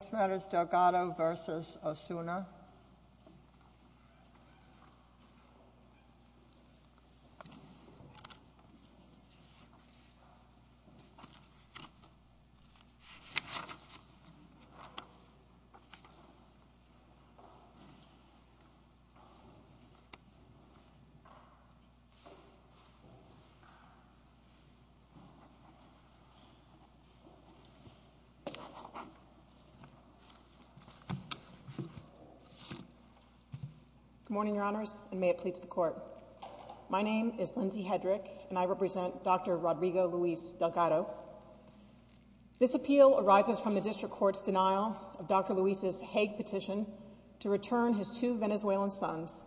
The next matter is Delgado v. Osuna Good morning, Your Honors, and may it please the Court. My name is Lindsay Hedrick, and I represent Dr. Rodrigo Luis Delgado. This appeal arises from the District Court's denial of Dr. Luis's Hague petition to return his two Venezuelan sons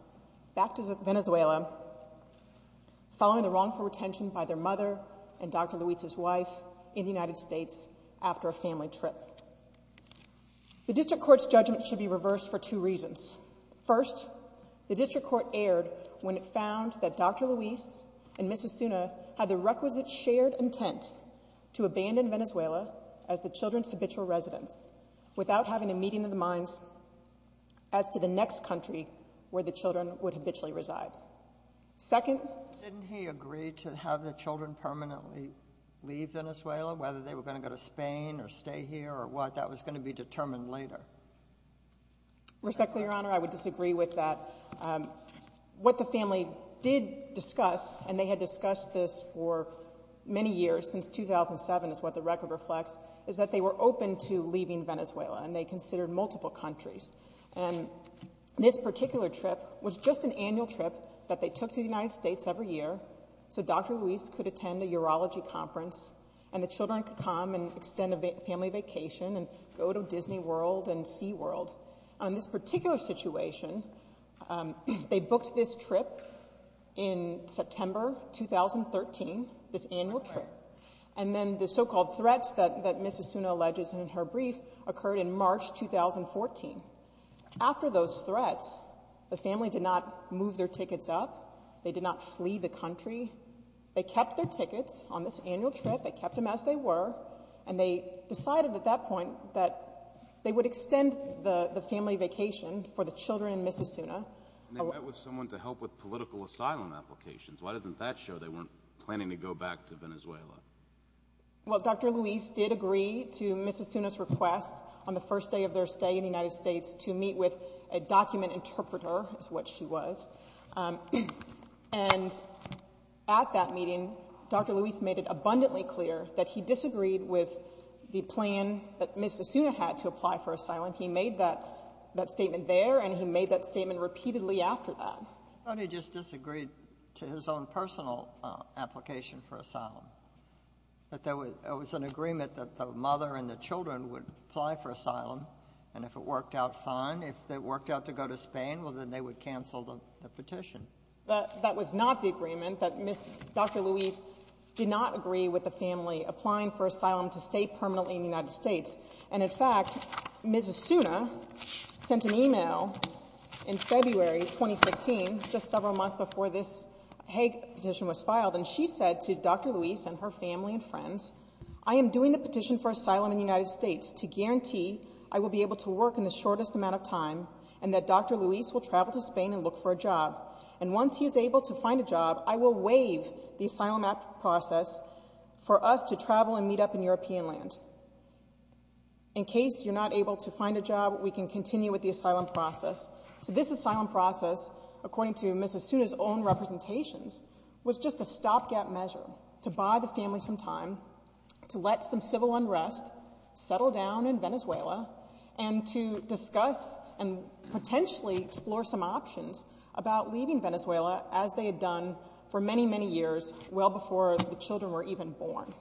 back to Venezuela following the wrongful retention by their The District Court's judgment should be reversed for two reasons. First, the District Court erred when it found that Dr. Luis and Ms. Osuna had the requisite shared intent to abandon Venezuela as the children's habitual residence without having a meeting in the minds as to the next country where the children would habitually reside. Second— Didn't he agree to have the children permanently leave Venezuela, whether they were going to go to Spain or stay here or what? That was going to be determined later. Respectfully, Your Honor, I would disagree with that. What the family did discuss, and they had discussed this for many years, since 2007 is what the record reflects, is that they were open to leaving Venezuela, and they considered multiple countries. And this particular trip was just an annual trip that they took to the United States every year, so Dr. Luis could attend a urology conference, and the children could come and extend a family vacation and go to Disney World and SeaWorld. On this particular situation, they booked this trip in September 2013, this annual trip, and then the so-called threats that Ms. Osuna alleges in her brief occurred in March 2014. After those threats, the family did not move their tickets up, they did not flee the country. They kept their tickets on this annual trip, they kept them as they were, and they decided at that point that they would extend the family vacation for the children in Ms. Osuna. And they met with someone to help with political asylum applications. Why doesn't that show they weren't planning to go back to Venezuela? Well, Dr. Luis did agree to Ms. Osuna's request on the first day of their stay in the United States to meet with a document interpreter, is what she was. And at that meeting, Dr. Luis made it abundantly clear that he disagreed with the plan that Ms. Osuna had to apply for asylum. He made that statement there, and he made that statement repeatedly after that. He only just disagreed to his own personal application for asylum, that there was an agreement that the mother and the children would apply for asylum, and if it worked out fine, if it worked out to go to Spain, well, then they would cancel the petition. That was not the agreement, that Dr. Luis did not agree with the family applying for asylum to stay permanently in the United States. And in fact, Ms. Osuna sent an email in February 2015, just several months before this Hague petition was filed, and she said to Dr. Luis and her family and friends, I am doing the petition for asylum in the United States to guarantee I will be able to work in the shortest amount of time, and that Dr. Luis will travel to Spain and look for a job. And once he is able to find a job, I will waive the asylum process for us to travel and meet up in European land. In case you're not able to find a job, we can continue with the asylum process. This asylum process, according to Ms. Osuna's own representations, was just a stopgap measure to buy the family some time, to let some civil unrest settle down in Venezuela, and to discuss and potentially explore some options about leaving Venezuela, as they had done for many, many years, well before the children were even born.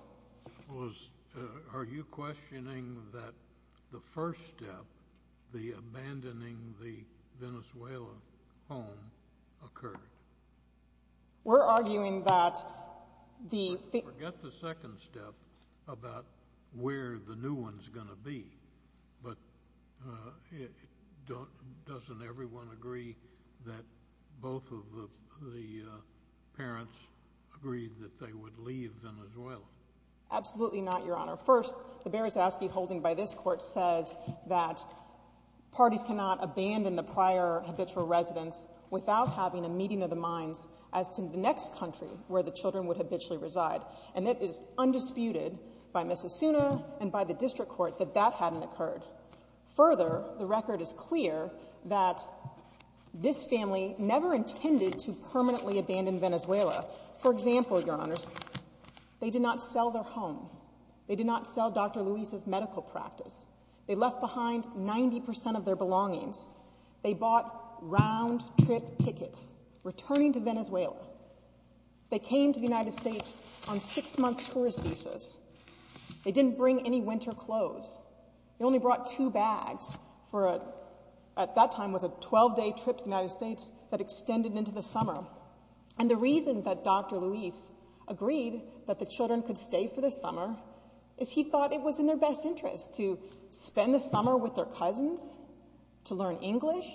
Are you questioning that the first step, the abandoning the Venezuela home, occurred? We're arguing that the... Forget the second step about where the new one's going to be, but doesn't everyone agree that both of the parents agreed that they would leave Venezuela? Absolutely not, Your Honor. First, the Beresovsky holding by this Court says that parties cannot abandon the prior habitual residence without having a meeting of the minds as to the next country where the children would habitually reside. And it is undisputed by Ms. Osuna and by the District Court that that hadn't occurred. Further, the record is clear that this family never intended to permanently abandon Venezuela. For example, Your Honors, they did not sell their home. They did not sell Dr. Luis's medical practice. They left behind 90% of their belongings. They bought round-trip tickets, returning to Venezuela. They came to the United States on six-month tourist visas. They didn't bring any winter clothes. They only brought two bags for a... At that time, it was a 12-day trip to the United States that extended into the summer. And the reason that Dr. Luis agreed that the children could stay for the summer is he thought it was in their best interest to spend the summer with their cousins, to learn English.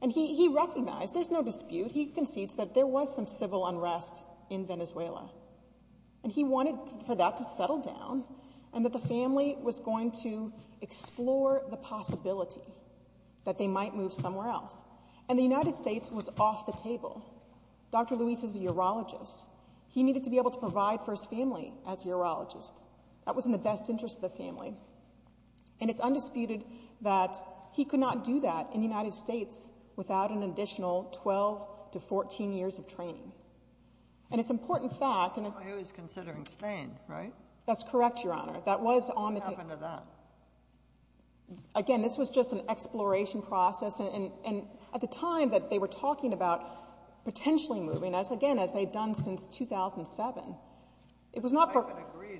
And he recognized, there's no dispute, he concedes that there was some civil unrest in Venezuela. And he wanted for that to settle down and that the family was going to explore the possibility that they might move somewhere else. And the United States was off the table. Dr. Luis is a urologist. He needed to be able to provide for his family as a urologist. That was in the best interest of the family. And it's undisputed that he could not do that in the United States without an additional 12 to 14 years of training. And it's an important fact... That's why he was considering Spain, right? That's correct, Your Honor. What happened to that? Again, this was just an exploration process. And at the time that they were talking about potentially moving, again, as they had done since 2007, it was not for...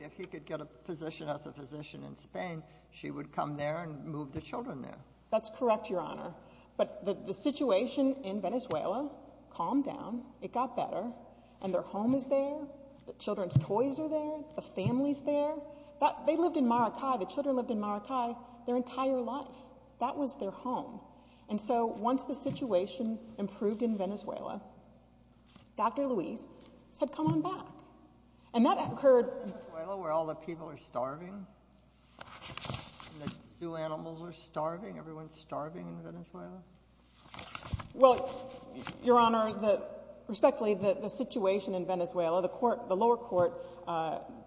If he could get a position as a physician in Spain, she would come there and move the children there. That's correct, Your Honor. But the situation in Venezuela calmed down. It got better. And their home is there. The children's toys are there. The family is there. They lived in Maracay. The children lived in Maracay their entire life. That was their home. And so once the situation improved in Venezuela, Dr. Luis said, come on back. And that occurred... In Venezuela, where all the people are starving, the zoo animals are starving, everyone is starving in Venezuela. Well, Your Honor, respectfully, the situation in Venezuela, the lower court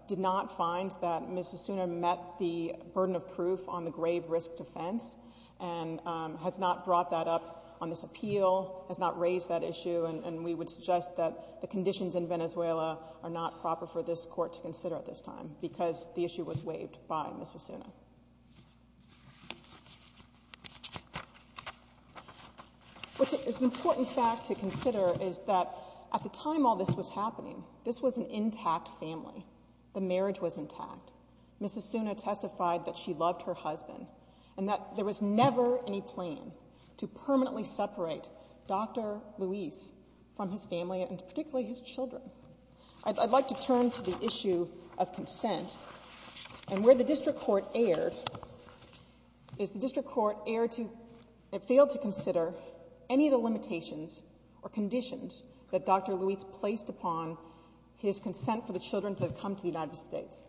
did not find that Ms. Osuna met the burden of proof on the grave risk defense and has not brought that up on this appeal, has not raised that issue. And we would suggest that the conditions in Venezuela are not proper for this court to consider at this time because the issue was waived by Ms. Osuna. What's an important fact to consider is that at the time all this was happening, this was an intact family. The marriage was intact. Ms. Osuna testified that she loved her husband and that there was never any plan to permanently separate Dr. Luis from his family and particularly his children. I'd like to turn to the issue of consent. And where the district court erred is the district court failed to consider any of the limitations or conditions that Dr. Luis placed upon his consent for the children to come to the United States.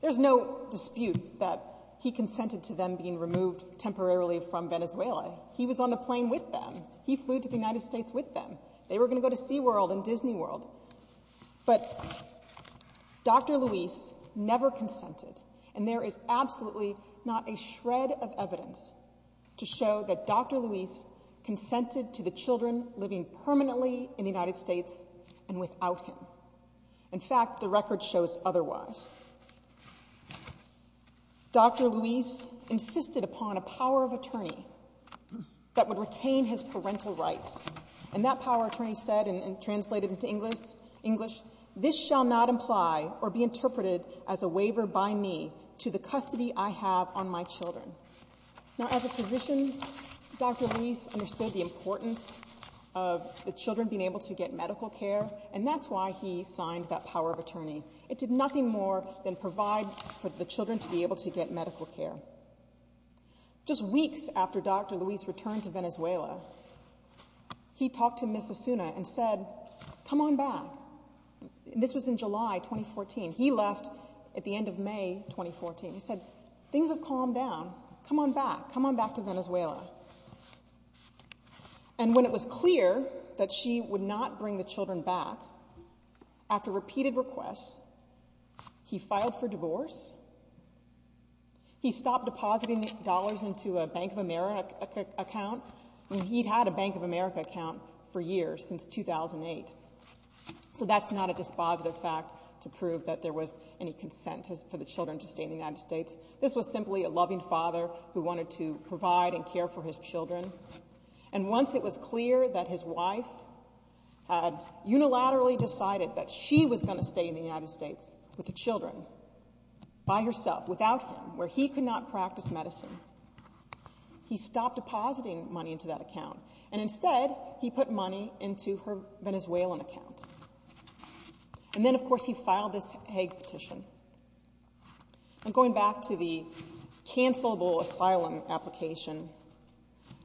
There's no dispute that he consented to them being removed temporarily from Venezuela. He was on the plane with them. He flew to the United States with them. They were going to go to SeaWorld and Disney World. But Dr. Luis never consented. And there is absolutely not a shred of evidence to show that Dr. Luis consented to the children living permanently in the United States and without him. In fact, the record shows otherwise. Dr. Luis insisted upon a power of attorney that would retain his parental rights. And that power of attorney said, and translated into English, this shall not imply or be interpreted as a waiver by me to the custody I have on my children. Now, as a physician, Dr. Luis understood the importance of the children being able to get medical care, and that's why he signed that power of attorney. It did nothing more than provide for the children to be able to get medical care. Just weeks after Dr. Luis returned to Venezuela, he talked to Ms. Asuna and said, come on back. This was in July 2014. He left at the end of May 2014. He said, things have calmed down. Come on back. Come on back to Venezuela. And when it was clear that she would not bring the children back, after repeated requests, he filed for divorce. He stopped depositing dollars into a Bank of America account. I mean, he'd had a Bank of America account for years, since 2008. So that's not a dispositive fact to prove that there was any consent for the children to stay in the United States. This was simply a loving father who wanted to provide and care for his children. And once it was clear that his wife had unilaterally decided that she was going to stay in the United States with the children, by herself, without him, where he could not practice medicine, he stopped depositing money into that account. And instead, he put money into her Venezuelan account. And then, of course, he filed this Hague petition. And going back to the cancelable asylum application,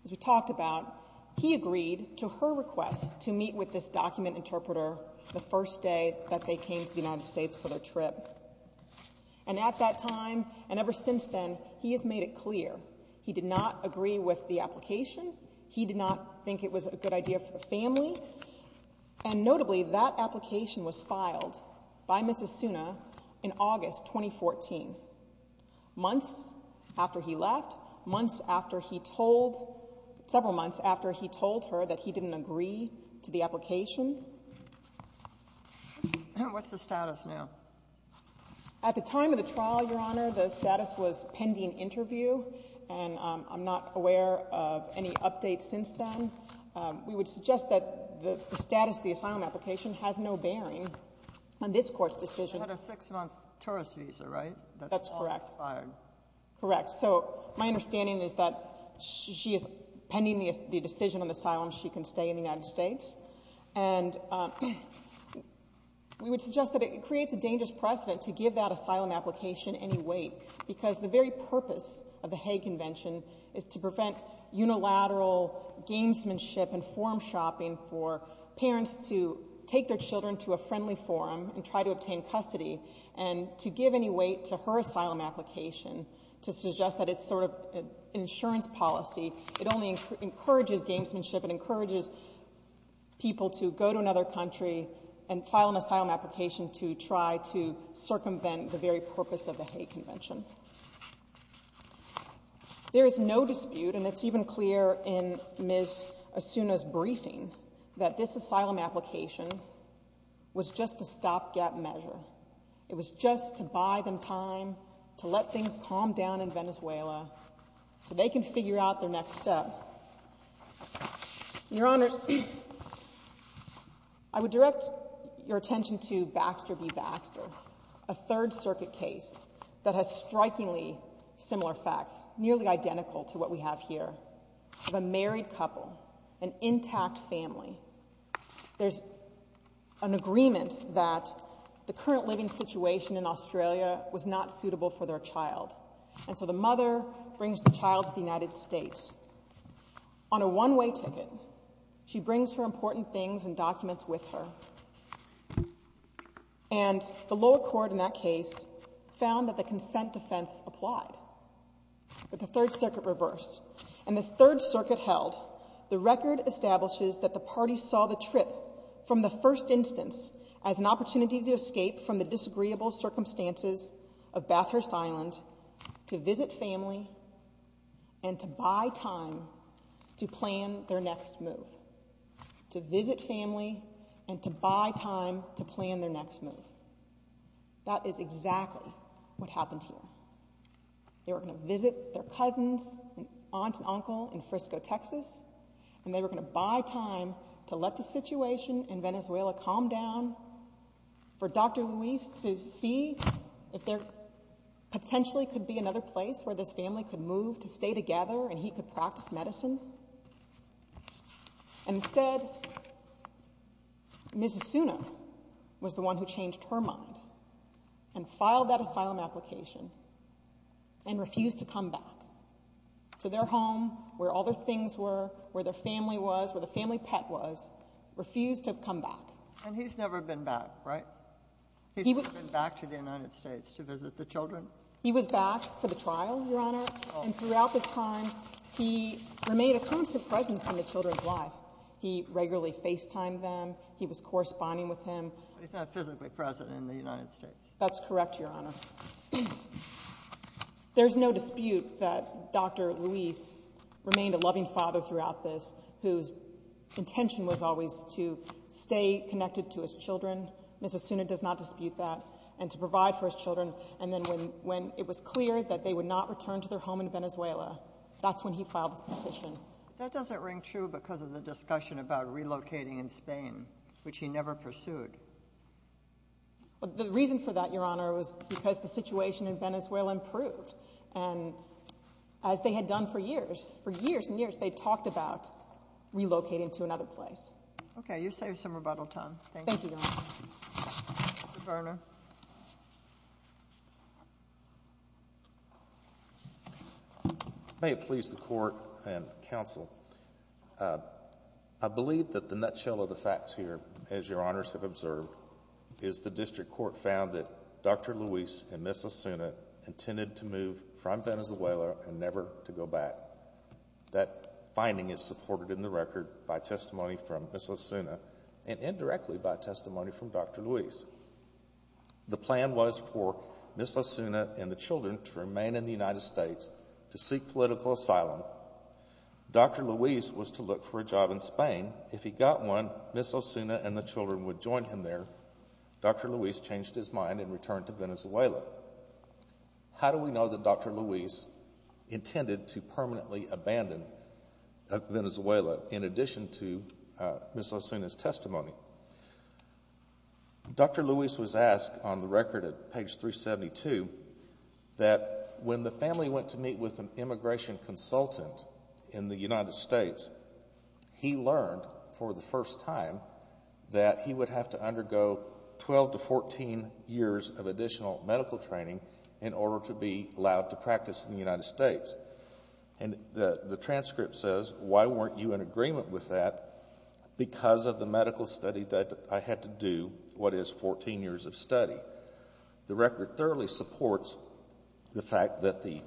as we talked about, he agreed to her request to meet with this document interpreter the first day that they came to the United States for their trip. And at that time, and ever since then, he has made it clear he did not agree with the application. He did not think it was a good idea for the family. And notably, that application was filed by Mrs. Suna in August 2014, months after he left, months after he told... several months after he told her that he didn't agree to the application. What's the status now? At the time of the trial, Your Honor, the status was pending interview, and I'm not aware of any updates since then. We would suggest that the status of the asylum application has no bearing on this court's decision. She had a six-month tourist visa, right? That's correct. That's all expired. Correct. So my understanding is that she is pending the decision on the asylum. She can stay in the United States. And we would suggest that it creates a dangerous precedent to give that asylum application any weight, because the very purpose of the Hague Convention is to prevent unilateral gamesmanship and forum shopping for parents to take their children to a friendly forum and try to obtain custody, and to give any weight to her asylum application to suggest that it's sort of an insurance policy. It only encourages gamesmanship. It encourages people to go to another country and file an asylum application to try to circumvent the very purpose of the Hague Convention. There is no dispute, and it's even clear in Ms. Asuna's briefing, that this asylum application was just a stopgap measure. It was just to buy them time to let things calm down in Venezuela so they can figure out their next step. Your Honor, I would direct your attention to Baxter v. Baxter, a Third Circuit case that has strikingly similar facts, nearly identical to what we have here, of a married couple, an intact family. There's an agreement that the current living situation in Australia was not suitable for their child, and so the mother brings the child to the United States. On a one-way ticket, she brings her important things and documents with her, and the lower court in that case found that the consent defense applied. But the Third Circuit reversed, and the Third Circuit held the record establishes that the party saw the trip from the first instance as an opportunity to escape from the disagreeable circumstances of Bathurst Island to visit family and to buy time to plan their next move. To visit family and to buy time to plan their next move. That is exactly what happened here. They were going to visit their cousins, aunt and uncle in Frisco, Texas, and they were going to buy time to let the situation in Venezuela calm down for Dr. Luis to see if there potentially could be another place where this family could move to stay together and he could practice medicine. Instead, Ms. Asuna was the one who changed her mind and filed that asylum application and refused to come back to their home where all their things were, where their family was, where the family pet was, refused to come back. And he's never been back, right? He's never been back to the United States to visit the children? He was back for the trial, Your Honor, and throughout this time, he remained a constant presence in the children's life. He regularly FaceTimed them. He was corresponding with them. But he's not physically present in the United States. That's correct, Your Honor. There's no dispute that Dr. Luis remained a loving father throughout this whose intention was always to stay connected to his children. Ms. Asuna does not dispute that, and to provide for his children. And then when it was clear that they would not return to their home in Venezuela, that's when he filed his petition. That doesn't ring true because of the discussion about relocating in Spain, which he never pursued. The reason for that, Your Honor, was because the situation in Venezuela improved. And as they had done for years, for years and years, they talked about relocating to another place. Okay, you saved some rebuttal time. Thank you, Your Honor. Mr. Garner. May it please the Court and counsel, I believe that the nutshell of the facts here, as Your Honors have observed, is the district court found that Dr. Luis and Ms. Asuna intended to move from Venezuela and never to go back. That finding is supported in the record by testimony from Ms. Asuna, and indirectly by testimony from Dr. Luis. The plan was for Ms. Asuna and the children to remain in the United States to seek political asylum. Dr. Luis was to look for a job in Spain. If he got one, Ms. Asuna and the children would join him there. Dr. Luis changed his mind and returned to Venezuela. How do we know that Dr. Luis intended to permanently abandon Venezuela in addition to Ms. Asuna's testimony? Dr. Luis was asked on the record at page 372 that when the family went to meet with an immigration consultant in the United States, he learned for the first time that he would have to undergo 12 to 14 years of additional medical training in order to be allowed to practice in the United States. And the transcript says, why weren't you in agreement with that? Because of the medical study that I had to do, what is 14 years of study. The record thoroughly supports the fact that the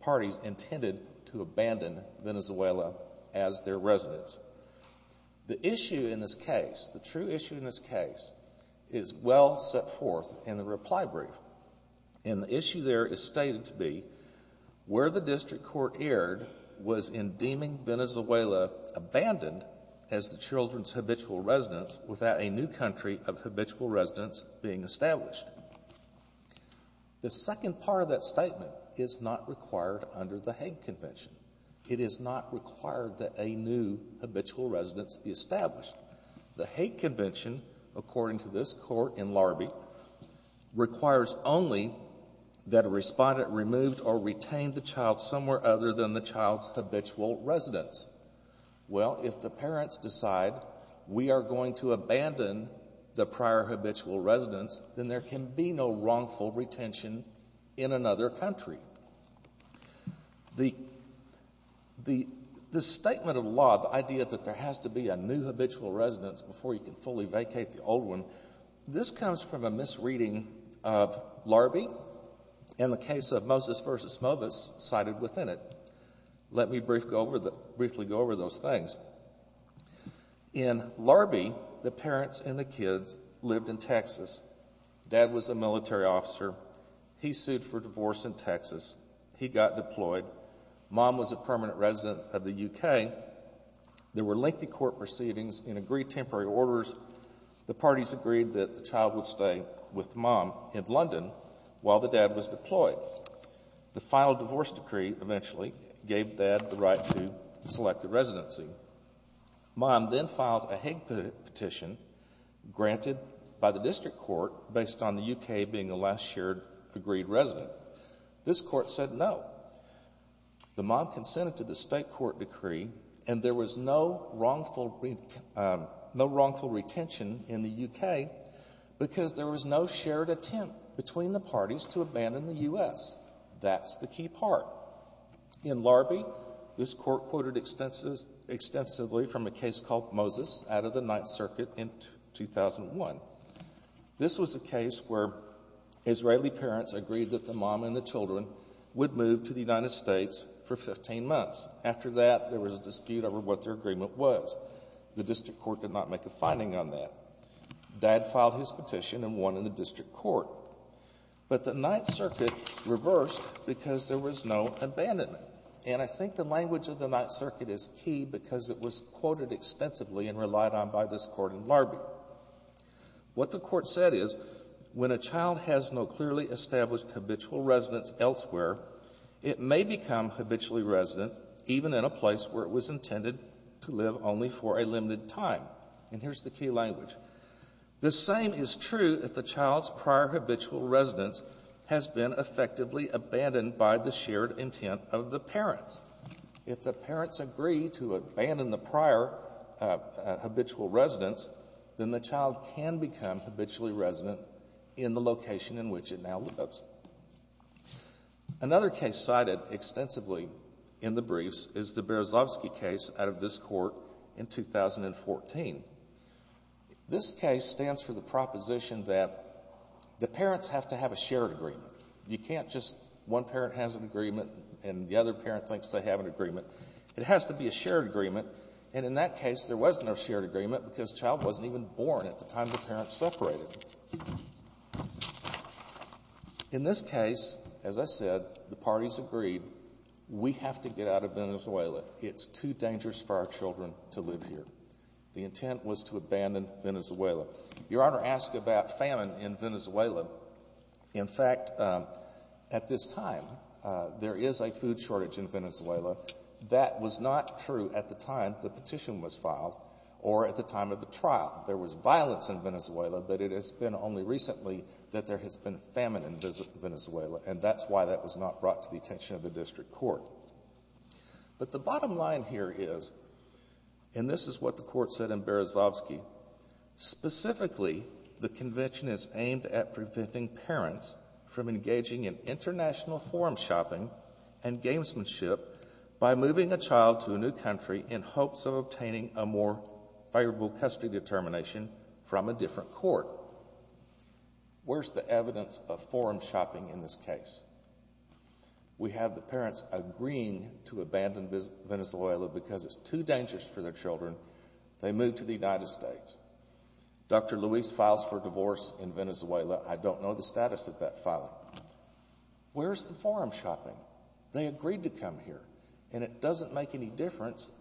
parties intended to abandon Venezuela as their residence. The issue in this case, the true issue in this case, is well set forth in the reply brief. And the issue there is stated to be where the district court erred was in deeming Venezuela abandoned as the children's habitual residence without a new country of habitual residence being established. The second part of that statement is not required under the Hague Convention. It is not required that a new habitual residence be established. The Hague Convention, according to this court in Larby, requires only that a respondent removed or retained the child somewhere other than the child's habitual residence. Well, if the parents decide we are going to abandon the prior habitual residence, then there can be no wrongful retention in another country. The statement of law, the idea that there has to be a new habitual residence before you can fully vacate the old one, this comes from a misreading of Larby and the case of Moses v. Movis cited within it. Let me briefly go over those things. In Larby, the parents and the kids lived in Texas. Dad was a military officer. He sued for divorce in Texas. He got deployed. Mom was a permanent resident of the U.K. There were lengthy court proceedings and agreed temporary orders. The parties agreed that the child would stay with Mom in London while the dad was deployed. The final divorce decree eventually gave Dad the right to select a residency. Mom then filed a Hague petition granted by the district court based on the U.K. being the last shared agreed resident. This court said no. The mom consented to the state court decree and there was no wrongful retention in the U.K. because there was no shared attempt between the parties to abandon the U.S. That's the key part. In Larby, this court quoted extensively from a case called Movis out of the Ninth Circuit in 2001. This was a case where Israeli parents agreed that the mom and the children would move to the United States for 15 months. After that, there was a dispute over what their agreement was. The district court did not make a finding on that. Dad filed his petition and won in the district court. But the Ninth Circuit reversed because there was no abandonment. And I think the language of the Ninth Circuit is key because it was quoted extensively and relied on by this court in Larby. What the court said is, when a child has no clearly established habitual residence elsewhere, it may become habitually resident even in a place where it was intended to live only for a limited time. And here's the key language. The same is true if the child's prior habitual residence has been effectively abandoned by the shared intent of the parents. If the parents agree to abandon the prior habitual residence, then the child can become habitually resident in the location in which it now lives. Another case cited extensively in the briefs is the Berezovsky case out of this court in 2014. This case stands for the proposition that the parents have to have a shared agreement. You can't just one parent has an agreement and the other parent thinks they have an agreement. It has to be a shared agreement. And in that case, there was no shared agreement because the child wasn't even born at the time the parents separated. In this case, as I said, the parties agreed, we have to get out of Venezuela. It's too dangerous for our children to live here. The intent was to abandon Venezuela. Your Honor asked about famine in Venezuela. In fact, at this time, there is a food shortage in Venezuela. That was not true at the time the petition was filed or at the time of the trial. There was violence in Venezuela, but it has been only recently that there has been famine in Venezuela, and that's why that was not brought to the attention of the district court. But the bottom line here is, and this is what the court said in Berezovsky, specifically, the convention is aimed at preventing parents from engaging in international forum shopping and gamesmanship by moving a child to a new country in hopes of obtaining a more favorable custody determination from a different court. Where's the evidence of forum shopping in this case? We have the parents agreeing to abandon Venezuela because it's too dangerous for their children. They move to the United States. Dr. Luis files for divorce in Venezuela. I don't know the status of that filing. Where's the forum shopping? They agreed to come here, and it doesn't make any difference,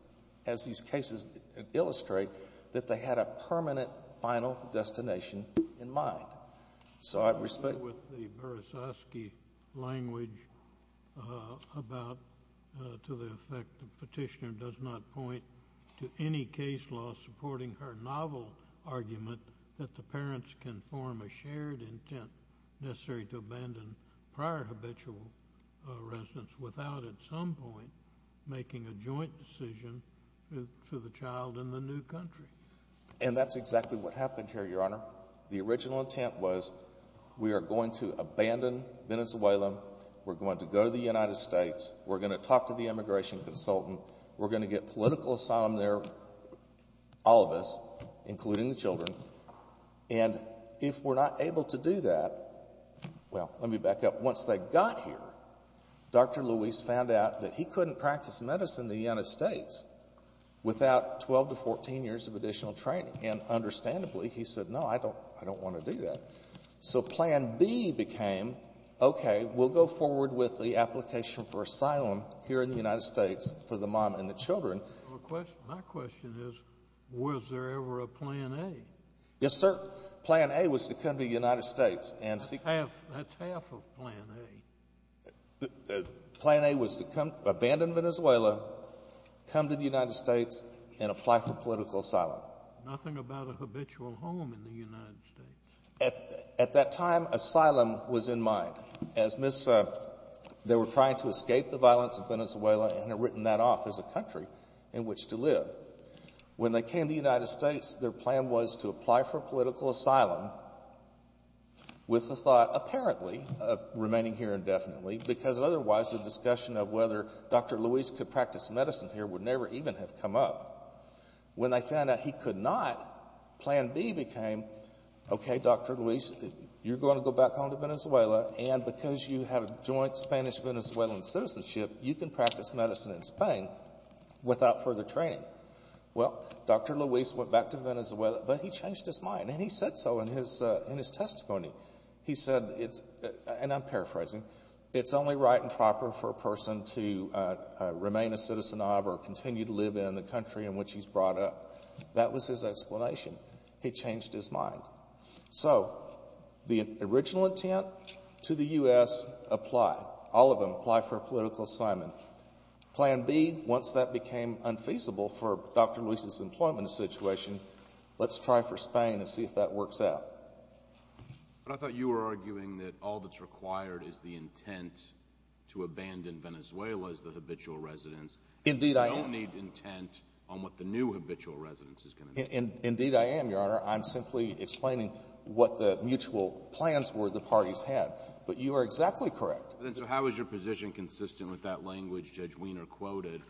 as these cases illustrate, that they had a permanent final destination in mind. So I respect... I agree with the Berezovsky language about to the effect the petitioner does not point to any case law supporting her novel argument that the parents can form a shared intent necessary to abandon prior habitual residence without at some point making a joint decision for the child in the new country. And that's exactly what happened here, Your Honor. The original intent was, we are going to abandon Venezuela, we're going to go to the United States, we're going to talk to the immigration consultant, we're going to get political asylum there, all of us, including the children, and if we're not able to do that... Well, let me back up. Once they got here, Dr. Luis found out that he couldn't practice medicine in the United States without 12 to 14 years of additional training. And understandably, he said, no, I don't want to do that. So plan B became, okay, we'll go forward with the application for asylum here in the United States for the mom and the children. My question is, was there ever a plan A? Yes, sir. Plan A was to come to the United States and seek... That's half of plan A. Plan A was to abandon Venezuela, come to the United States, and apply for political asylum. Nothing about a habitual home in the United States. At that time, asylum was in mind. As Miss... They were trying to escape the violence in Venezuela and had written that off as a country in which to live. When they came to the United States, their plan was to apply for political asylum with the thought, apparently, of remaining here indefinitely, because otherwise the discussion of whether Dr. Luis could practice medicine here would never even have come up. When they found out he could not, plan B became, okay, Dr. Luis, you're going to go back home to Venezuela, and because you have a joint Spanish-Venezuelan citizenship, you can practice medicine in Spain without further training. Well, Dr. Luis went back to Venezuela, but he changed his mind, and he said so in his testimony. He said, and I'm paraphrasing, it's only right and proper for a person to remain a citizen of or continue to live in the country in which he's brought up. That was his explanation. He changed his mind. So the original intent to the U.S., apply. All of them, apply for political asylum. Plan B, once that became unfeasible for Dr. Luis's employment situation, let's try for Spain and see if that works out. But I thought you were arguing that all that's required is the intent to abandon Venezuela as the habitual residence. Indeed, I am. You don't need intent on what the new habitual residence is going to be. Indeed, I am, Your Honor. I'm simply explaining what the mutual plans were the parties had. But you are exactly correct. So how is your position consistent with that language Judge Weiner quoted,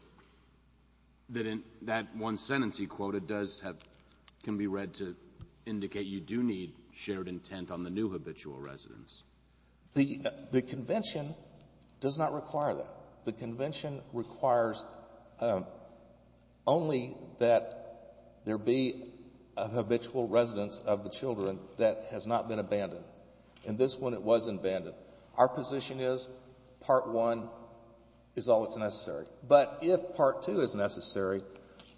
that in that one sentence he quoted does have, can be read to indicate you do need shared intent on the new habitual residence? The convention does not require that. The convention requires only that there be a habitual residence of the children that has not been abandoned. In this one, it was abandoned. Our position is Part 1 is all that's necessary. But if Part 2 is necessary,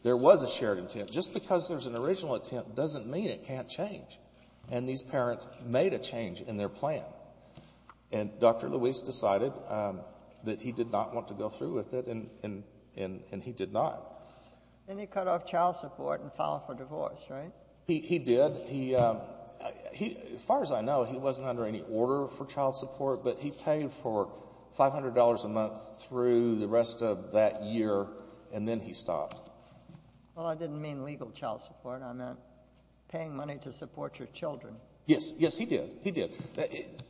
there was a shared intent. Just because there's an original intent doesn't mean it can't change. And these parents made a change in their plan. And Dr. Luis decided that he did not want to go through with it, and he did not. And he cut off child support and filed for divorce, right? He did. As far as I know, he wasn't under any order for child support, but he paid for $500 a month through the rest of that year, and then he stopped. Well, I didn't mean legal child support. I meant paying money to support your children. Yes, yes, he did. He did.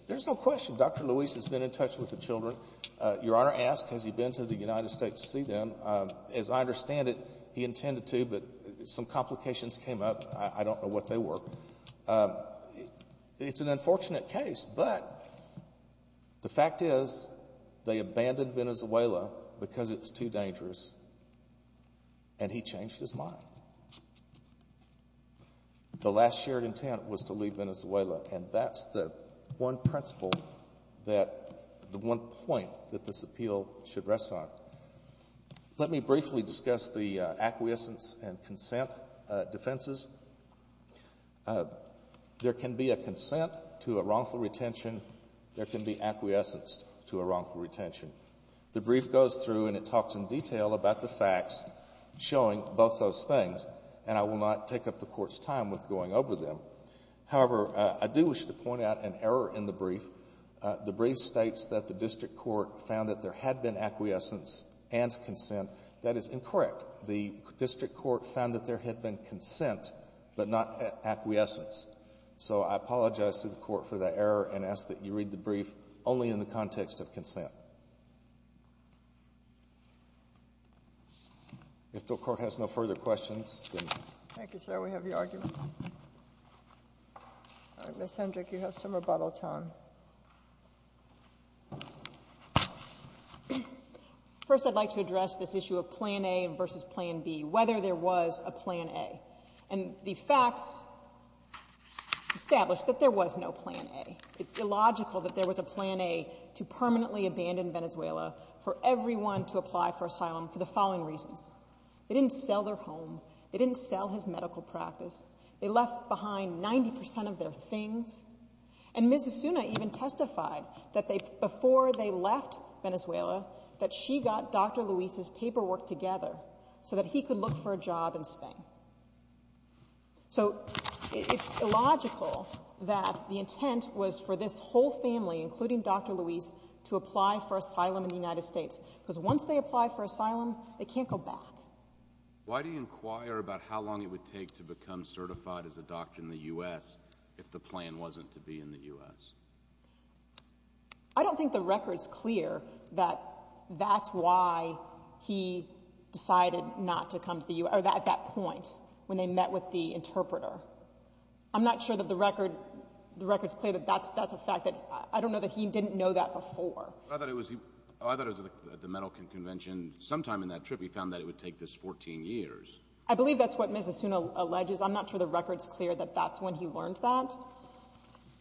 There's no question Dr. Luis has been in touch with the children. Your Honor asked, has he been to the United States to see them? As I understand it, he intended to, but some complications came up. I don't know what they were. It's an unfortunate case. But the fact is they abandoned Venezuela because it's too dangerous, and he changed his mind. The last shared intent was to leave Venezuela, and that's the one principle that the one point that this appeal should rest on. Let me briefly discuss the acquiescence and consent defenses. There can be a consent to a wrongful retention. There can be acquiescence to a wrongful retention. The brief goes through and it talks in detail about the facts showing both those things, and I will not take up the Court's time with going over them. However, I do wish to point out an error in the brief. The brief states that the district court found that there had been acquiescence and consent. That is incorrect. The district court found that there had been consent, but not acquiescence. So I apologize to the Court for that error and ask that you read the brief only in the context of consent. If the Court has no further questions. Thank you, sir. We have your argument. Ms. Hendrick, you have some rebuttal time. First, I'd like to address this issue of plan A versus plan B, whether there was a plan A. And the facts establish that there was no plan A. It's illogical that there was a plan A to permanently abandon Venezuela for everyone to apply for asylum for the following reasons. They didn't sell their home. They didn't sell his medical practice. They left behind 90% of their things. And Ms. Asuna even testified that before they left Venezuela, that she got Dr. Luis's paperwork together so that he could look for a job in Spain. So it's illogical that the intent was for this whole family, including Dr. Luis, to apply for asylum in the United States because once they apply for asylum, they can't go back. Why do you inquire about how long it would take to become certified as a doctor in the U.S. if the plan wasn't to be in the U.S.? I don't think the record's clear that that's why he decided not to come to the U.S. or at that point when they met with the interpreter. I'm not sure that the record's clear that that's a fact. I don't know that he didn't know that before. I thought it was at the medical convention. Sometime in that trip he found that it would take this 14 years. I believe that's what Ms. Asuna alleges. I'm not sure the record's clear that that's when he learned that.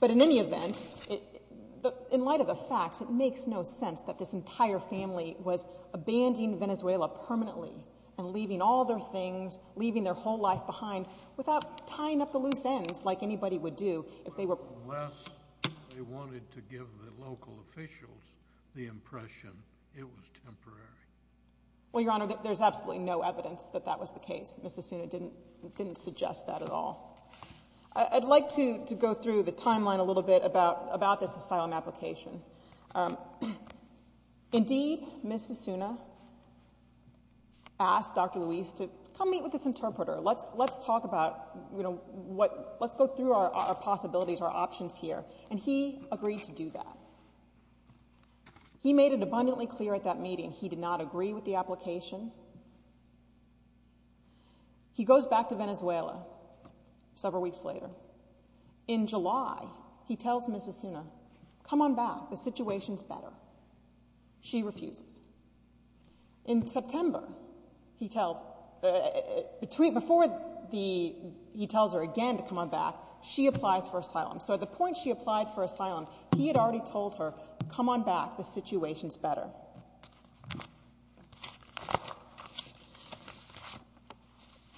But in any event, in light of the facts, it makes no sense that this entire family was abandoning Venezuela permanently and leaving all their things, leaving their whole life behind, without tying up the loose ends like anybody would do if they were unless they wanted to give the local officials the impression it was temporary. Well, Your Honor, there's absolutely no evidence that that was the case. Ms. Asuna didn't suggest that at all. I'd like to go through the timeline a little bit about this asylum application. Indeed, Ms. Asuna asked Dr. Luis to come meet with this interpreter. Let's go through our possibilities, our options here. And he agreed to do that. He made it abundantly clear at that meeting he did not agree with the application. He goes back to Venezuela several weeks later. In July, he tells Ms. Asuna, come on back. The situation's better. She refuses. In September, he tells her again to come on back. She applies for asylum. So at the point she applied for asylum, he had already told her, come on back. The situation's better.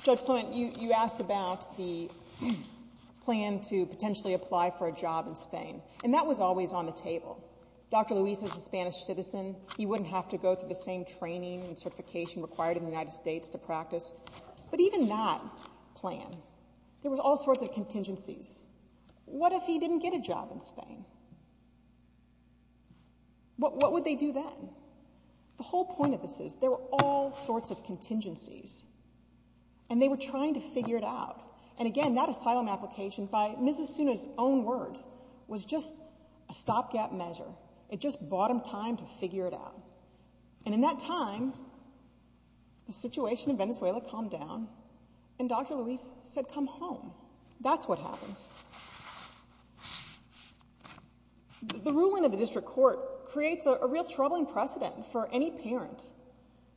Judge Clement, you asked about the plan to potentially apply for a job in Spain, and that was always on the table. Dr. Luis is a Spanish citizen. He wouldn't have to go through the same training and certification required in the United States to practice. But even that plan, there was all sorts of contingencies. What if he didn't get a job in Spain? What would they do then? The whole point of this is there were all sorts of contingencies, and they were trying to figure it out. And again, that asylum application, by Ms. Asuna's own words, was just a stopgap measure. It just bought him time to figure it out. And in that time, the situation in Venezuela calmed down, and Dr. Luis said, come home. That's what happens. The ruling of the district court creates a real troubling precedent for any parent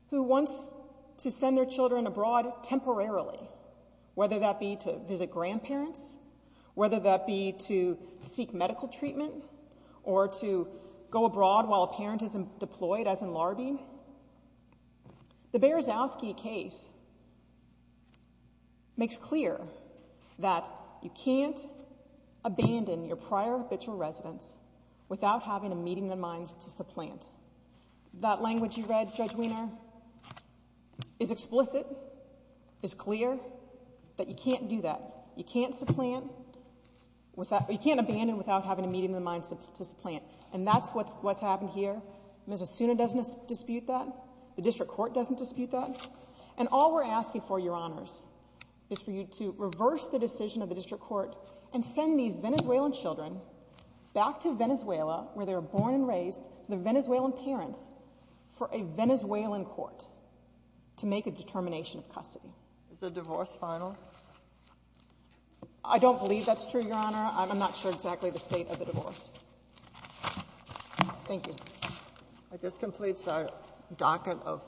who wants to send their children abroad temporarily, whether that be to visit grandparents, whether that be to seek medical treatment, or to go abroad while a parent is deployed, as in larvae. The Berezowski case makes clear that you can't abandon your prior habitual residence without having a meeting in mind to supplant. That language you read, Judge Wiener, is explicit, is clear, that you can't do that. You can't supplant. You can't abandon without having a meeting in mind to supplant. And that's what's happened here. Ms. Asuna doesn't dispute that. The district court doesn't dispute that. And all we're asking for, Your Honors, is for you to reverse the decision of the district court and send these Venezuelan children back to Venezuela, where they were born and raised, to their Venezuelan parents, for a Venezuelan court to make a determination of custody. Is the divorce final? I don't believe that's true, Your Honor. I'm not sure exactly the state of the divorce. Thank you. This completes our docket of questions.